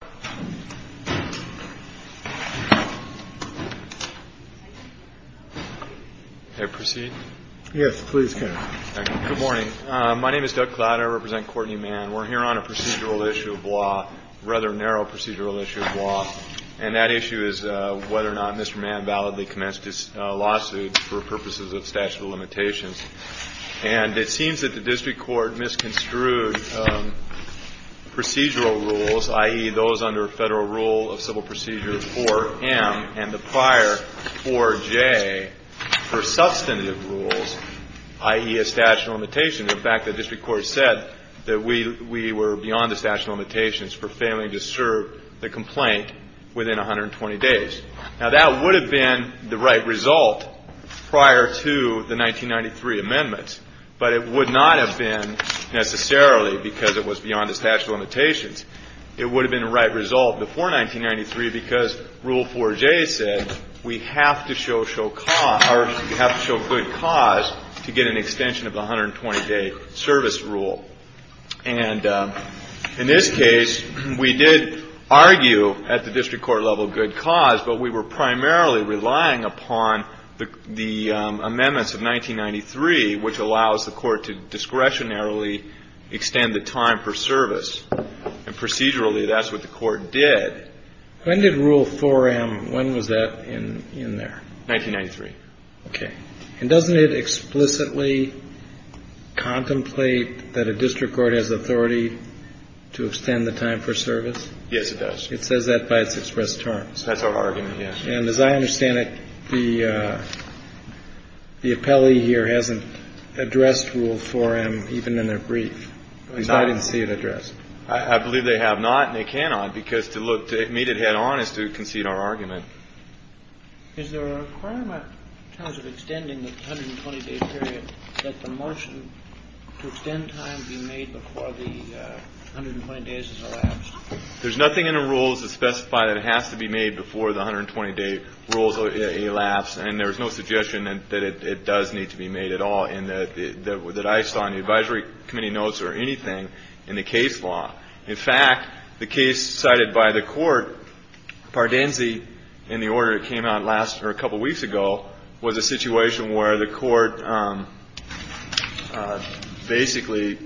Can I proceed? Yes, please, Ken. Thank you. Good morning. My name is Doug Clowder. I represent Courtney Mann. We're here on a procedural issue of law, a rather narrow procedural issue of law. And that issue is whether or not Mr. Mann validly commenced his lawsuit for purposes of statute of limitations. And it seems that the district court misconstrued the procedural rules, i.e. those under federal rule of civil procedure 4M and the prior 4J for substantive rules, i.e. a statute of limitations. In fact, the district court said that we were beyond the statute of limitations for failing to serve the complaint within 120 days. Now, that would have been the right result prior to the 1993 amendments, but it was beyond the statute of limitations. It would have been the right result before 1993 because rule 4J said we have to show good cause to get an extension of the 120-day service rule. And in this case, we did argue at the district court level good cause, but we were primarily relying upon the amendments of 1993, which allows the court to discretionarily extend the time per service. And procedurally, that's what the court did. Kennedy. When did rule 4M, when was that in there? Miller. 1993. Kennedy. Okay. And doesn't it explicitly contemplate that a district court has authority to extend the time per service? Miller. Yes, it does. Kennedy. It says that by its expressed terms. Miller. That's our argument, yes. Kennedy. And as I understand it, the appellee here hasn't addressed rule 4M even in a brief. Because I didn't see it addressed. Miller. I believe they have not and they cannot because to meet it head-on is to concede our argument. Kennedy. Is there a requirement in terms of extending the 120-day period that the motion to extend time be made before the 120 days has elapsed? Miller. There's nothing in the rules that specify that it has to be made before the 120-day rule has elapsed. And there's no suggestion that it does need to be made at all in that or that I saw in the advisory committee notes or anything in the case law. In fact, the case cited by the Court, Pardenzi and the order that came out last or a couple weeks ago was a situation where the Court basically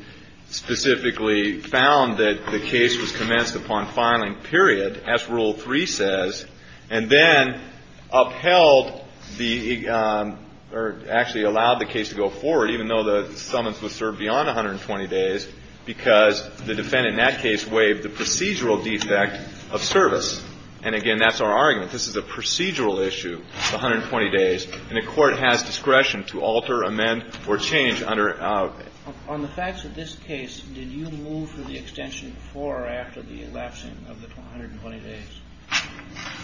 specifically found that the case was commenced upon filing period as Rule 3 says and then upheld the or actually allowed the case to go forward even though the summons was served beyond 120 days because the defendant in that case waived the procedural defect of service. And again, that's our argument. This is a procedural issue, the 120 days, and the Court has discretion to alter, amend or change under. On the facts of this case, did you move for the extension before or after the elapsing of the 120 days?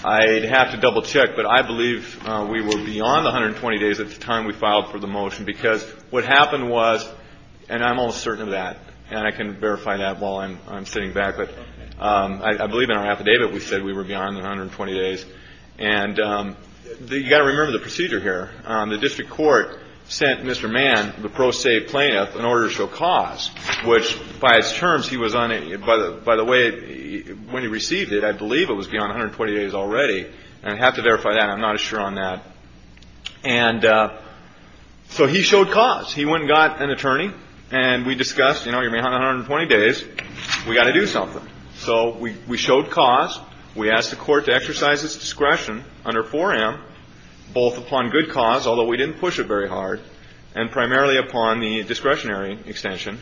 I'd have to double check, but I believe we were beyond the 120 days at the time we filed for the motion because what happened was, and I'm almost certain of that, and I can verify that while I'm sitting back, but I believe in our affidavit we said we were beyond the 120 days. And you've got to remember the procedure here. The district court sent Mr. Mann, the pro se plaintiff, an order to show cause, which by his terms, he was on it. By the way, when he received it, I believe it was beyond 120 days already. And I'd have to verify that. I'm not as sure on that. And so he showed cause. He went and got an attorney and we discussed, you know, you're beyond 120 days, we've got to do something. So we showed cause. We asked the Court to exercise its discretion under 4M, both upon good cause, although we didn't push it very hard, and primarily upon the discretionary extension.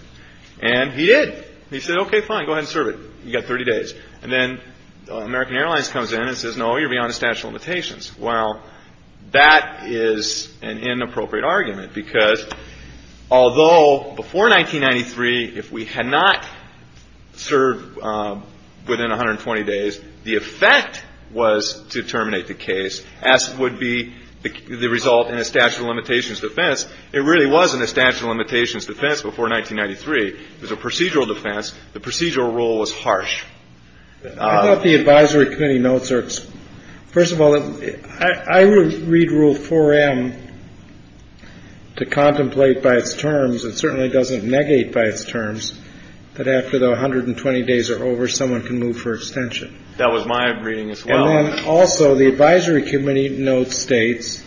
And he did. He said, okay, fine, go ahead and serve it. You've got 30 days. And then American Airlines comes in and says, no, you're beyond the statute of limitations. Well, that is an inappropriate argument, because although before 1993, if we had not served within 120 days, the effect was to terminate the case, as would be the result in a statute of limitations defense. It really wasn't a statute of limitations defense before 1993. It was a procedural defense. The procedural rule was harsh. I thought the advisory committee notes are, first of all, I would read Rule 4M to contemplate by its terms, it certainly doesn't negate by its terms, that after the 120 days are over, someone can move for extension. That was my reading as well. And then also the advisory committee note states,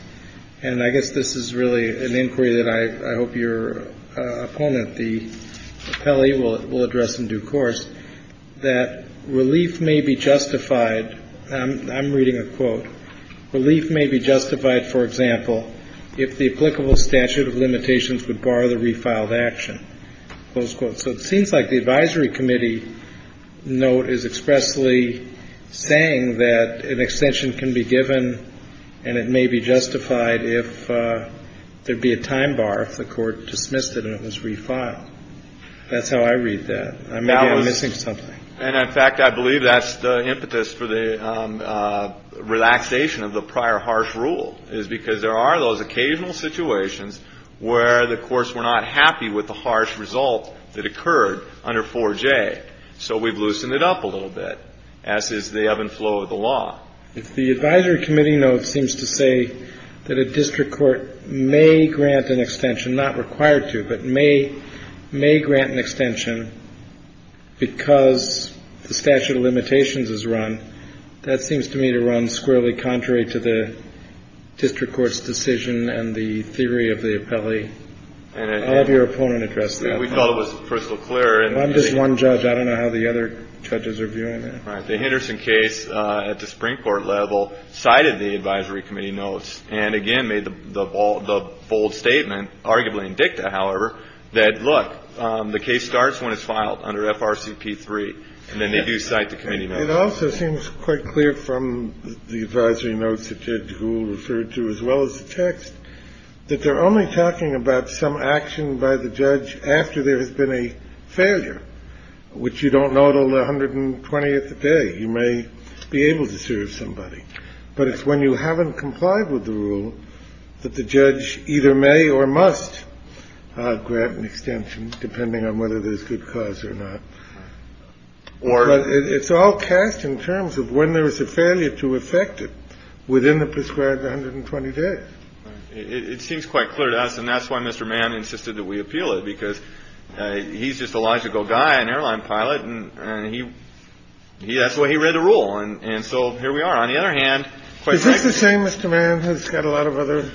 and I guess this is really an inquiry that I hope your opponent, the appellee, will address in due course, that relief may be justified, and I'm reading a quote, relief may be justified, for example, if the applicable statute of limitations would bar the refiled action, close quote. So it seems like the advisory committee note is expressly saying that an extension can be given and it may be justified if there'd be a time bar if the court dismissed it and it was refiled. That's how I read that. I may be missing something. And, in fact, I believe that's the impetus for the relaxation of the prior harsh rule, is because there are those occasional situations where the courts were not happy with the harsh result that occurred under 4J. So we've loosened it up a little bit, as is the ebb and flow of the law. If the advisory committee note seems to say that a district court may grant an extension, not required to, but may grant an extension because the statute of limitations is run, that seems to me to run squarely contrary to the district court's decision and the theory of the appellee. I'll have your opponent address that. We thought it was crystal clear. I'm just one judge. I don't know how the other judges are viewing it. The Henderson case at the Supreme Court level cited the advisory committee notes and, again, made the bold statement, arguably in dicta, however, that, look, the case starts when it's filed under FRCP3 and then they do cite the committee notes. It also seems quite clear from the advisory notes that Judge Gould referred to as well as the text that they're only talking about some action by the judge after there has been a failure, which you don't know until the 120th day. You may be able to serve somebody. But it's when you haven't complied with the rule that the judge either may or must grant an extension, depending on whether there's good cause or not. But it's all cast in terms of when there is a failure to effect it within the prescribed 120 days. It seems quite clear to us, and that's why Mr. Mann insisted that we appeal it, because he's just a logical guy, an airline pilot. And he he that's why he read the rule. And so here we are. On the other hand, is this the same Mr. Mann who's got a lot of other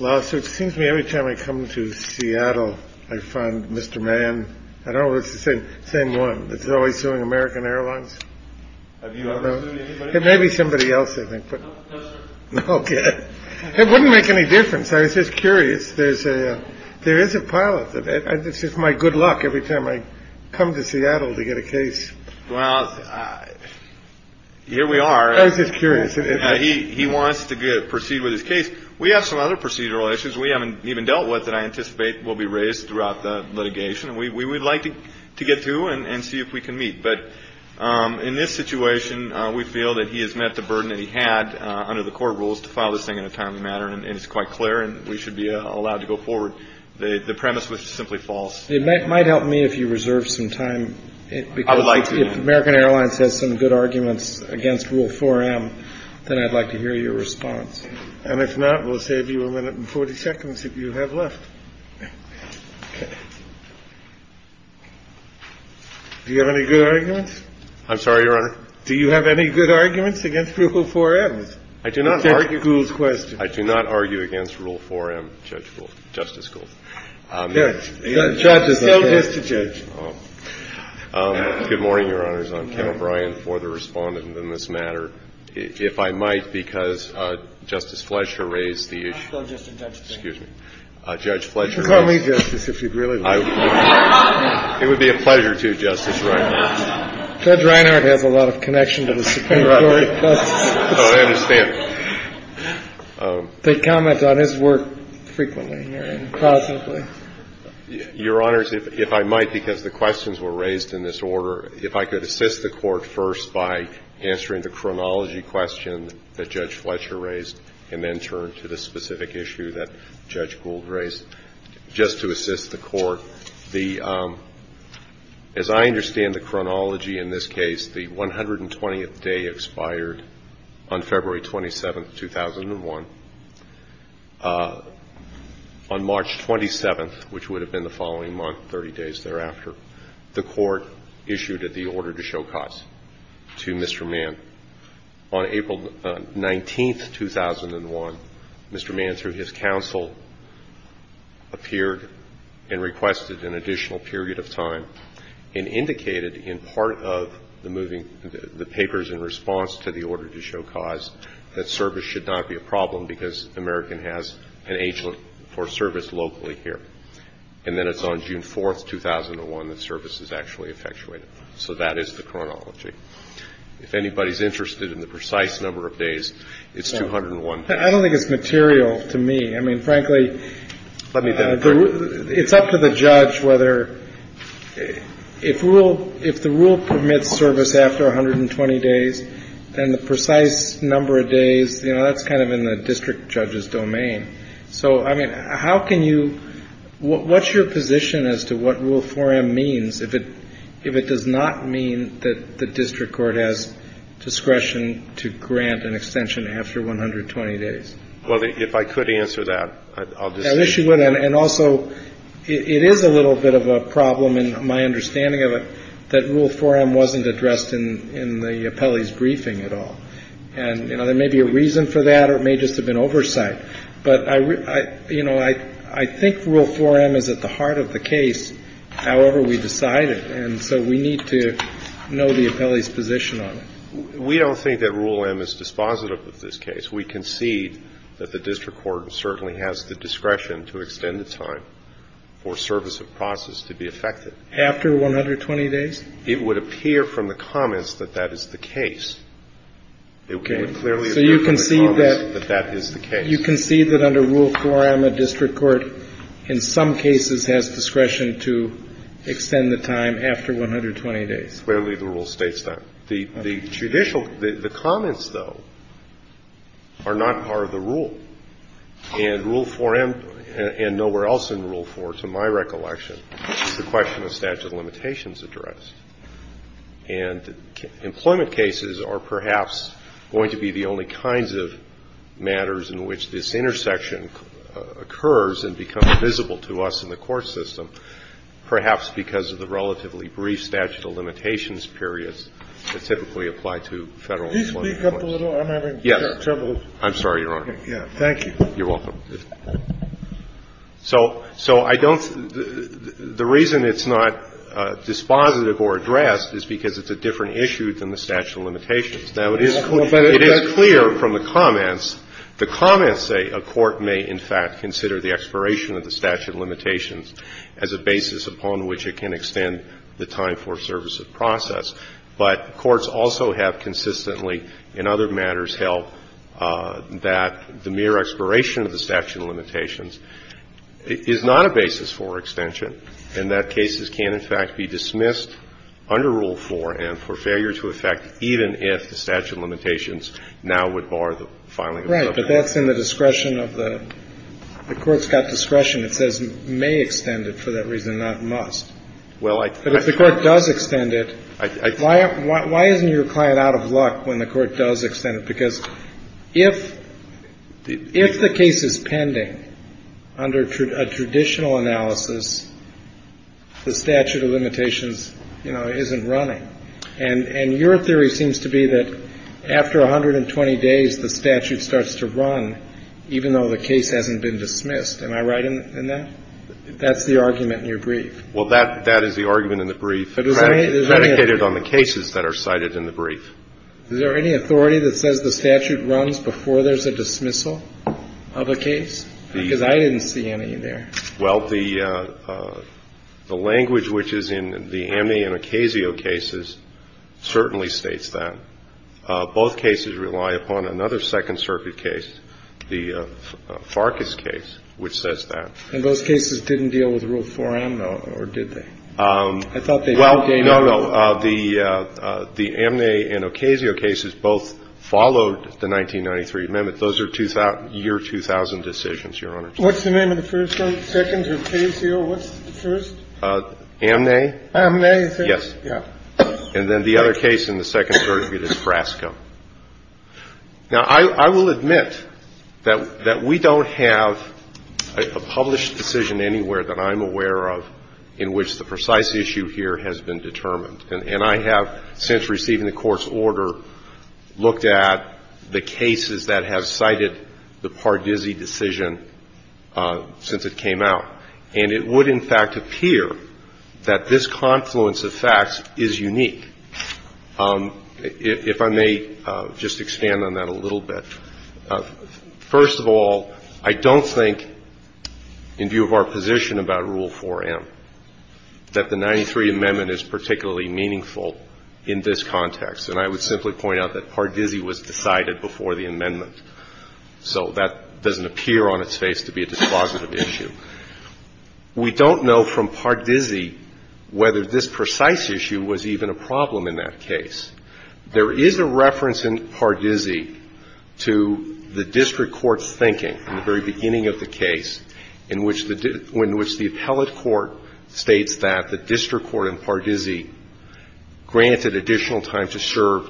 lawsuits? Seems to me every time I come to Seattle, I find Mr. Mann. I don't want to say the same one that's always doing American Airlines. Have you ever maybe somebody else? I think it wouldn't make any difference. I was just curious. There's a there is a pilot that this is my good luck every time I come to Seattle to get a case. Well, here we are. I was just curious. He wants to proceed with his case. We have some other procedural issues we haven't even dealt with that I anticipate will be raised throughout the litigation. And we would like to get to and see if we can meet. But in this situation, we feel that he has met the burden that he had under the court rules to file this thing in a timely manner. And it's quite clear. And we should be allowed to go forward. The premise was simply false. It might help me if you reserve some time. I would like to American Airlines has some good arguments against rule for him. Then I'd like to hear your response. And if not, we'll save you a minute and 40 seconds if you have left. Do you have any good arguments? I'm sorry, Your Honor. Do you have any good arguments against rule for it? I do not argue. Who's question? I do not argue against rule for him. Justice Gould, Justice Gould. Good morning, Your Honors. I'm Ken O'Brien for the respondent in this matter, if I might, because Justice Fletcher raised the excuse me, Judge Fletcher. Call me just as if you'd really like it would be a pleasure to justice. Judge Reinhardt has a lot of connection to the Supreme Court. I understand. They comment on his work frequently here and constantly. Your Honors, if I might, because the questions were raised in this order, if I could assist the Court first by answering the chronology question that Judge Fletcher raised and then turn to the specific issue that Judge Gould raised just to assist the Court. The – as I understand the chronology in this case, the 120th day expired on February 27th, 2001. On March 27th, which would have been the following month, 30 days thereafter, the Court issued the order to show cause to Mr. Mann. On April 19th, 2001, Mr. Mann, through his counsel, appeared and requested an additional period of time and indicated in part of the moving – the papers in response to the order to show cause that service should not be a problem because American has an agent for service locally here. And then it's on June 4th, 2001, that service is actually effectuated. So that is the chronology. If anybody is interested in the precise number of days, it's 201 days. I don't think it's material to me. I mean, frankly, it's up to the judge whether – if rule – if the rule permits service after 120 days, then the precise number of days, you know, that's kind of in the district judge's domain. So, I mean, how can you – what's your position as to what Rule 4M means if it – if it does not mean that the district court has discretion to grant an extension after 120 days? Well, if I could answer that, I'll just – I wish you would. And also, it is a little bit of a problem, in my understanding of it, that Rule 4M wasn't addressed in the appellee's briefing at all. And, you know, there may be a reason for that or it may just have been oversight. But I – you know, I think Rule 4M is at the heart of the case, however we decide it. And so we need to know the appellee's position on it. We don't think that Rule M is dispositive of this case. We concede that the district court certainly has the discretion to extend the time for service of process to be effected. After 120 days? It would appear from the comments that that is the case. It would clearly appear from the comments that that is the case. You concede that under Rule 4M, a district court, in some cases, has discretion to extend the time after 120 days? Clearly, the rule states that. The judicial – the comments, though, are not part of the rule. And Rule 4M – and nowhere else in Rule 4, to my recollection, the question of statute of limitations addressed. And employment cases are perhaps going to be the only kinds of matters in which this intersection occurs and becomes visible to us in the court system, perhaps because of the relatively brief statute of limitations periods that typically apply to Federal employment cases. Please speak up a little. I'm having trouble. I'm sorry, Your Honor. Thank you. You're welcome. So – so I don't – the reason it's not dispositive or addressed is because it's a different issue than the statute of limitations. Now, it is clear from the comments – the comments say a court may, in fact, consider the expiration of the statute of limitations as a basis upon which it can extend the time for service of process. But courts also have consistently, in other matters, held that the mere expiration of the statute of limitations is not a basis for extension, and that cases can, in fact, be dismissed under Rule 4M for failure to effect even if the statute of limitations now would bar the filing of a public case. Right, but that's in the discretion of the – the court's got discretion. It says may extend it for that reason, not must. Well, I – But if the court does extend it – I – I – Why – why isn't your client out of luck when the court does extend it? Because if – if the case is pending under a traditional analysis, the statute of limitations, you know, isn't running. And – and your theory seems to be that after 120 days, the statute starts to run, even though the case hasn't been dismissed. Am I right in that? That's the argument in your brief. Well, that – that is the argument in the brief. But is there any – It's predicated on the cases that are cited in the brief. Is there any authority that says the statute runs before there's a dismissal of a case? Because I didn't see any there. Well, the – the language which is in the Amney and Ocasio cases certainly states that. Both cases rely upon another Second Circuit case, the Farkas case, which says that. And those cases didn't deal with Rule 4M, or did they? I thought they did. Well, no, no. The – the Amney and Ocasio cases both followed the 1993 amendment. Those are 2000 – year 2000 decisions, Your Honor. What's the name of the first one? Second, Ocasio. What's the first? Amney. Amney. Yes. Yeah. And then the other case in the Second Circuit is Brasco. Now, I will admit that we don't have a published decision anywhere that I'm aware of in which the precise issue here has been determined. And I have, since receiving the Court's order, looked at the cases that have cited the Pardisi decision since it came out. And it would, in fact, appear that this confluence of facts is unique. If I may just expand on that a little bit. First of all, I don't think, in view of our position about Rule 4M, that the 93 amendment is particularly meaningful in this context. And I would simply point out that Pardisi was decided before the amendment. So that doesn't appear on its face to be a dispositive issue. We don't know from Pardisi whether this precise issue was even a problem in that case. There is a reference in Pardisi to the district court's thinking in the very beginning of the case in which the appellate court states that the district court in Pardisi granted additional time to serve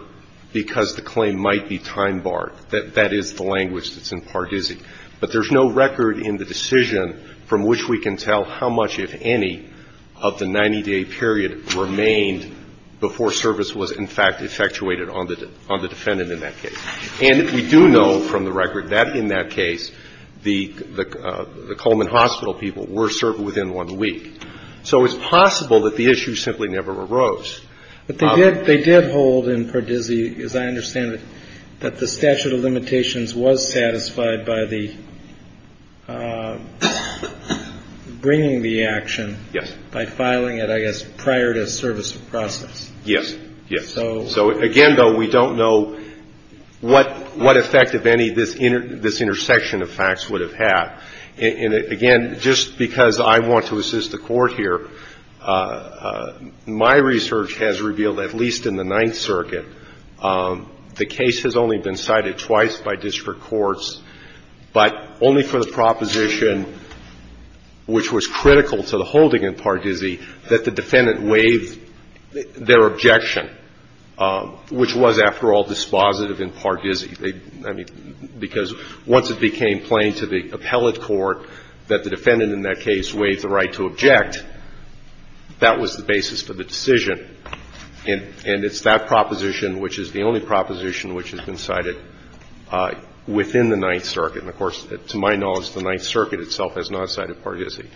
because the claim might be time barred. That is the language that's in Pardisi. But there's no record in the decision from which we can tell how much, if any, of the fact effectuated on the defendant in that case. And if we do know from the record that in that case the Coleman Hospital people were served within one week. So it's possible that the issue simply never arose. But they did hold in Pardisi, as I understand it, that the statute of limitations was satisfied by the bringing the action by filing it, I guess, prior to a service of process. Yes. So again, though, we don't know what effect, if any, this intersection of facts would have had. And again, just because I want to assist the Court here, my research has revealed at least in the Ninth Circuit the case has only been cited twice by district courts, but only for the proposition which was critical to the holding in Pardisi that the defendant waived their objection, which was, after all, dispositive in Pardisi. I mean, because once it became plain to the appellate court that the defendant in that case waived the right to object, that was the basis for the decision. And it's that proposition which is the only proposition which has been cited within the Ninth Circuit. And of course, to my knowledge, the Ninth Circuit itself has not cited Pardisi.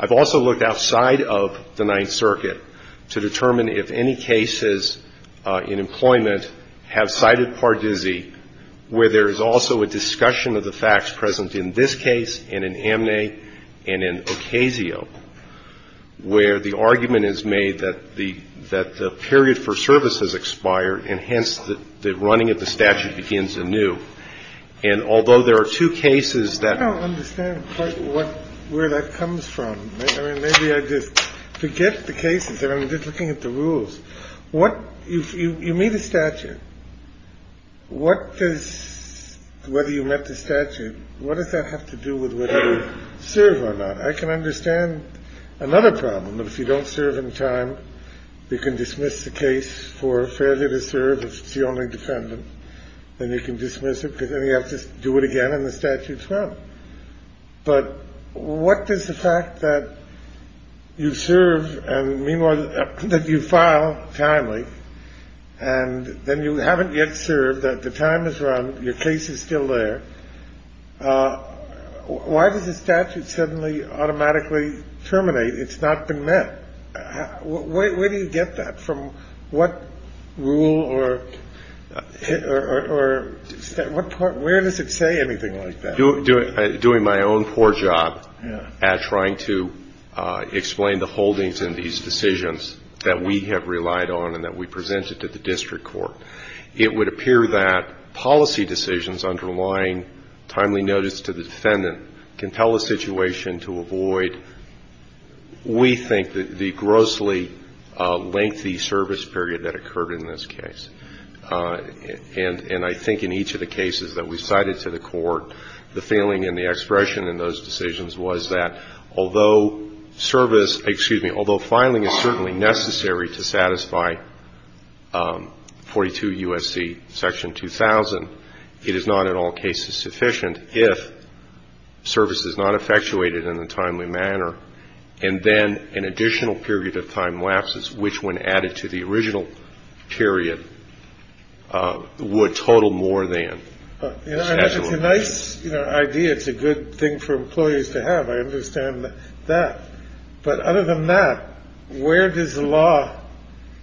I've also looked outside of the Ninth Circuit to determine if any cases in employment have cited Pardisi where there is also a discussion of the facts present in this case and in Amne and in Ocasio, where the argument is made that the period for service has expired, and hence, the running of the statute begins anew. And although there are two cases that are the same, I don't understand where that comes from. I mean, maybe I just forget the cases, and I'm just looking at the rules. What you meet a statute, what does – whether you met the statute, what does that have to do with whether you serve or not? I can understand another problem, that if you don't serve in time, you can dismiss the case for failure to serve if it's the only defendant, and you can dismiss it because then you have to do it again, and the statute's wrong. But what does the fact that you serve and meanwhile that you file timely, and then you haven't yet served, the time is run, your case is still there, why does the statute suddenly automatically terminate? It's not been met. Where do you get that from? What rule or – where does it say anything like that? I'm doing my own poor job at trying to explain the holdings in these decisions that we have relied on and that we presented to the district court. It would appear that policy decisions underlying timely notice to the defendant can tell a situation to avoid, we think, the grossly lengthy service period that occurred in this case. And I think in each of the cases that we cited to the court, the feeling and the expression in those decisions was that although service – excuse me – although filing is certainly necessary to satisfy 42 U.S.C. Section 2000, it is not in all cases sufficient if service is not effectuated in a timely manner, and then an additional period of time lapses, which when added to the original period, would not be sufficient would total more than the statute. It's a nice idea. It's a good thing for employees to have. I understand that. But other than that, where does the law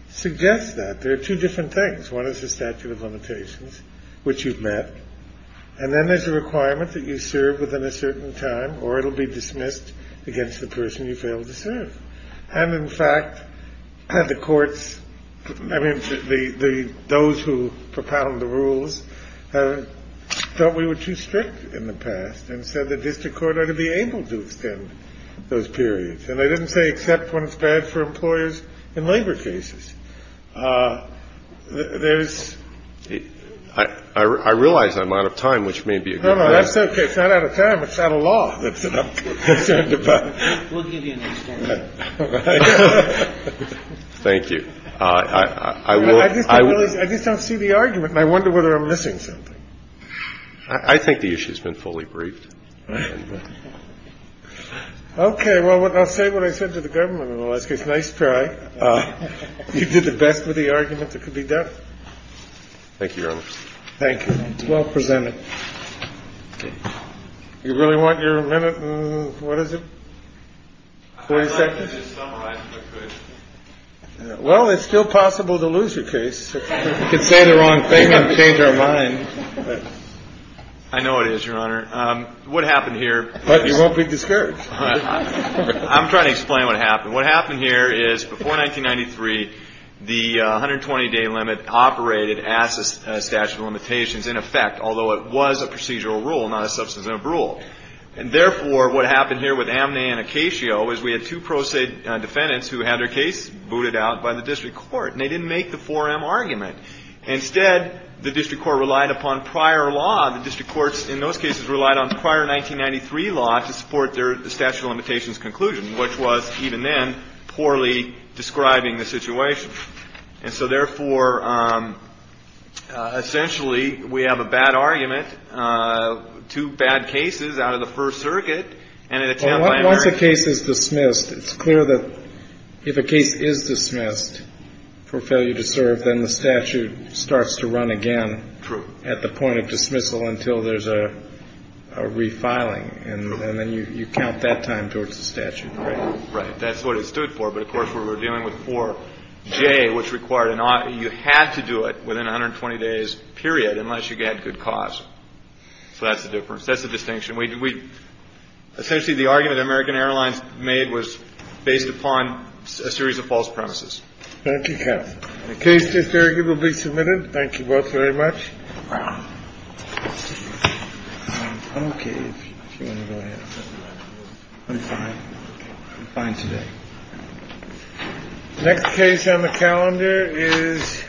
suggest that? There are two different things. One is the statute of limitations, which you've met, and then there's a requirement that you serve within a certain time, or it'll be dismissed against the person you failed to serve. And in fact, the courts – I mean, those who propound the rules felt we were too strict in the past and said the district court ought to be able to extend those periods. And they didn't say except when it's bad for employers in labor cases. There's – I realize I'm out of time, which may be a good thing. No, no, that's okay. It's not out of time. It's out of law. That's enough. We'll give you an extension. Thank you. I just don't see the argument, and I wonder whether I'm missing something. I think the issue's been fully briefed. Okay. Well, I'll say what I said to the government in the last case. Nice try. You did the best with the argument that could be done. Thank you, Your Honor. Thank you. It's well presented. You really want your minute? What is it? I'd like to just summarize it, if I could. Well, it's still possible to lose your case. We can say the wrong thing and change our mind. I know it is, Your Honor. What happened here – But you won't be discouraged. I'm trying to explain what happened. What happened here is before 1993, the 120-day limit operated as a statute of limitations in effect, although it was a procedural rule, not a substantive rule. And therefore, what happened here with Amney and Acasio is we had two pro se defendants who had their case booted out by the district court, and they didn't make the 4M argument. Instead, the district court relied upon prior law. The district courts in those cases relied on prior 1993 law to support their statute of limitations conclusion, which was, even then, poorly describing the situation. And so, therefore, essentially, we have a bad argument, two bad cases out of the First Circuit. Well, once a case is dismissed, it's clear that if a case is dismissed for failure to serve, then the statute starts to run again at the point of dismissal until there's a refiling. And then you count that time towards the statute, right? Right. That's what it stood for. But, of course, we were dealing with 4J, which required an audit. You had to do it within 120 days, period, unless you had good cause. So that's the difference. That's the distinction. We – essentially, the argument American Airlines made was based upon a series of false premises. Thank you, counsel. The case is arguably submitted. Thank you both very much. Wow. Okay. If you want to go ahead. I'm fine. I'm fine today. Next case on the calendar is.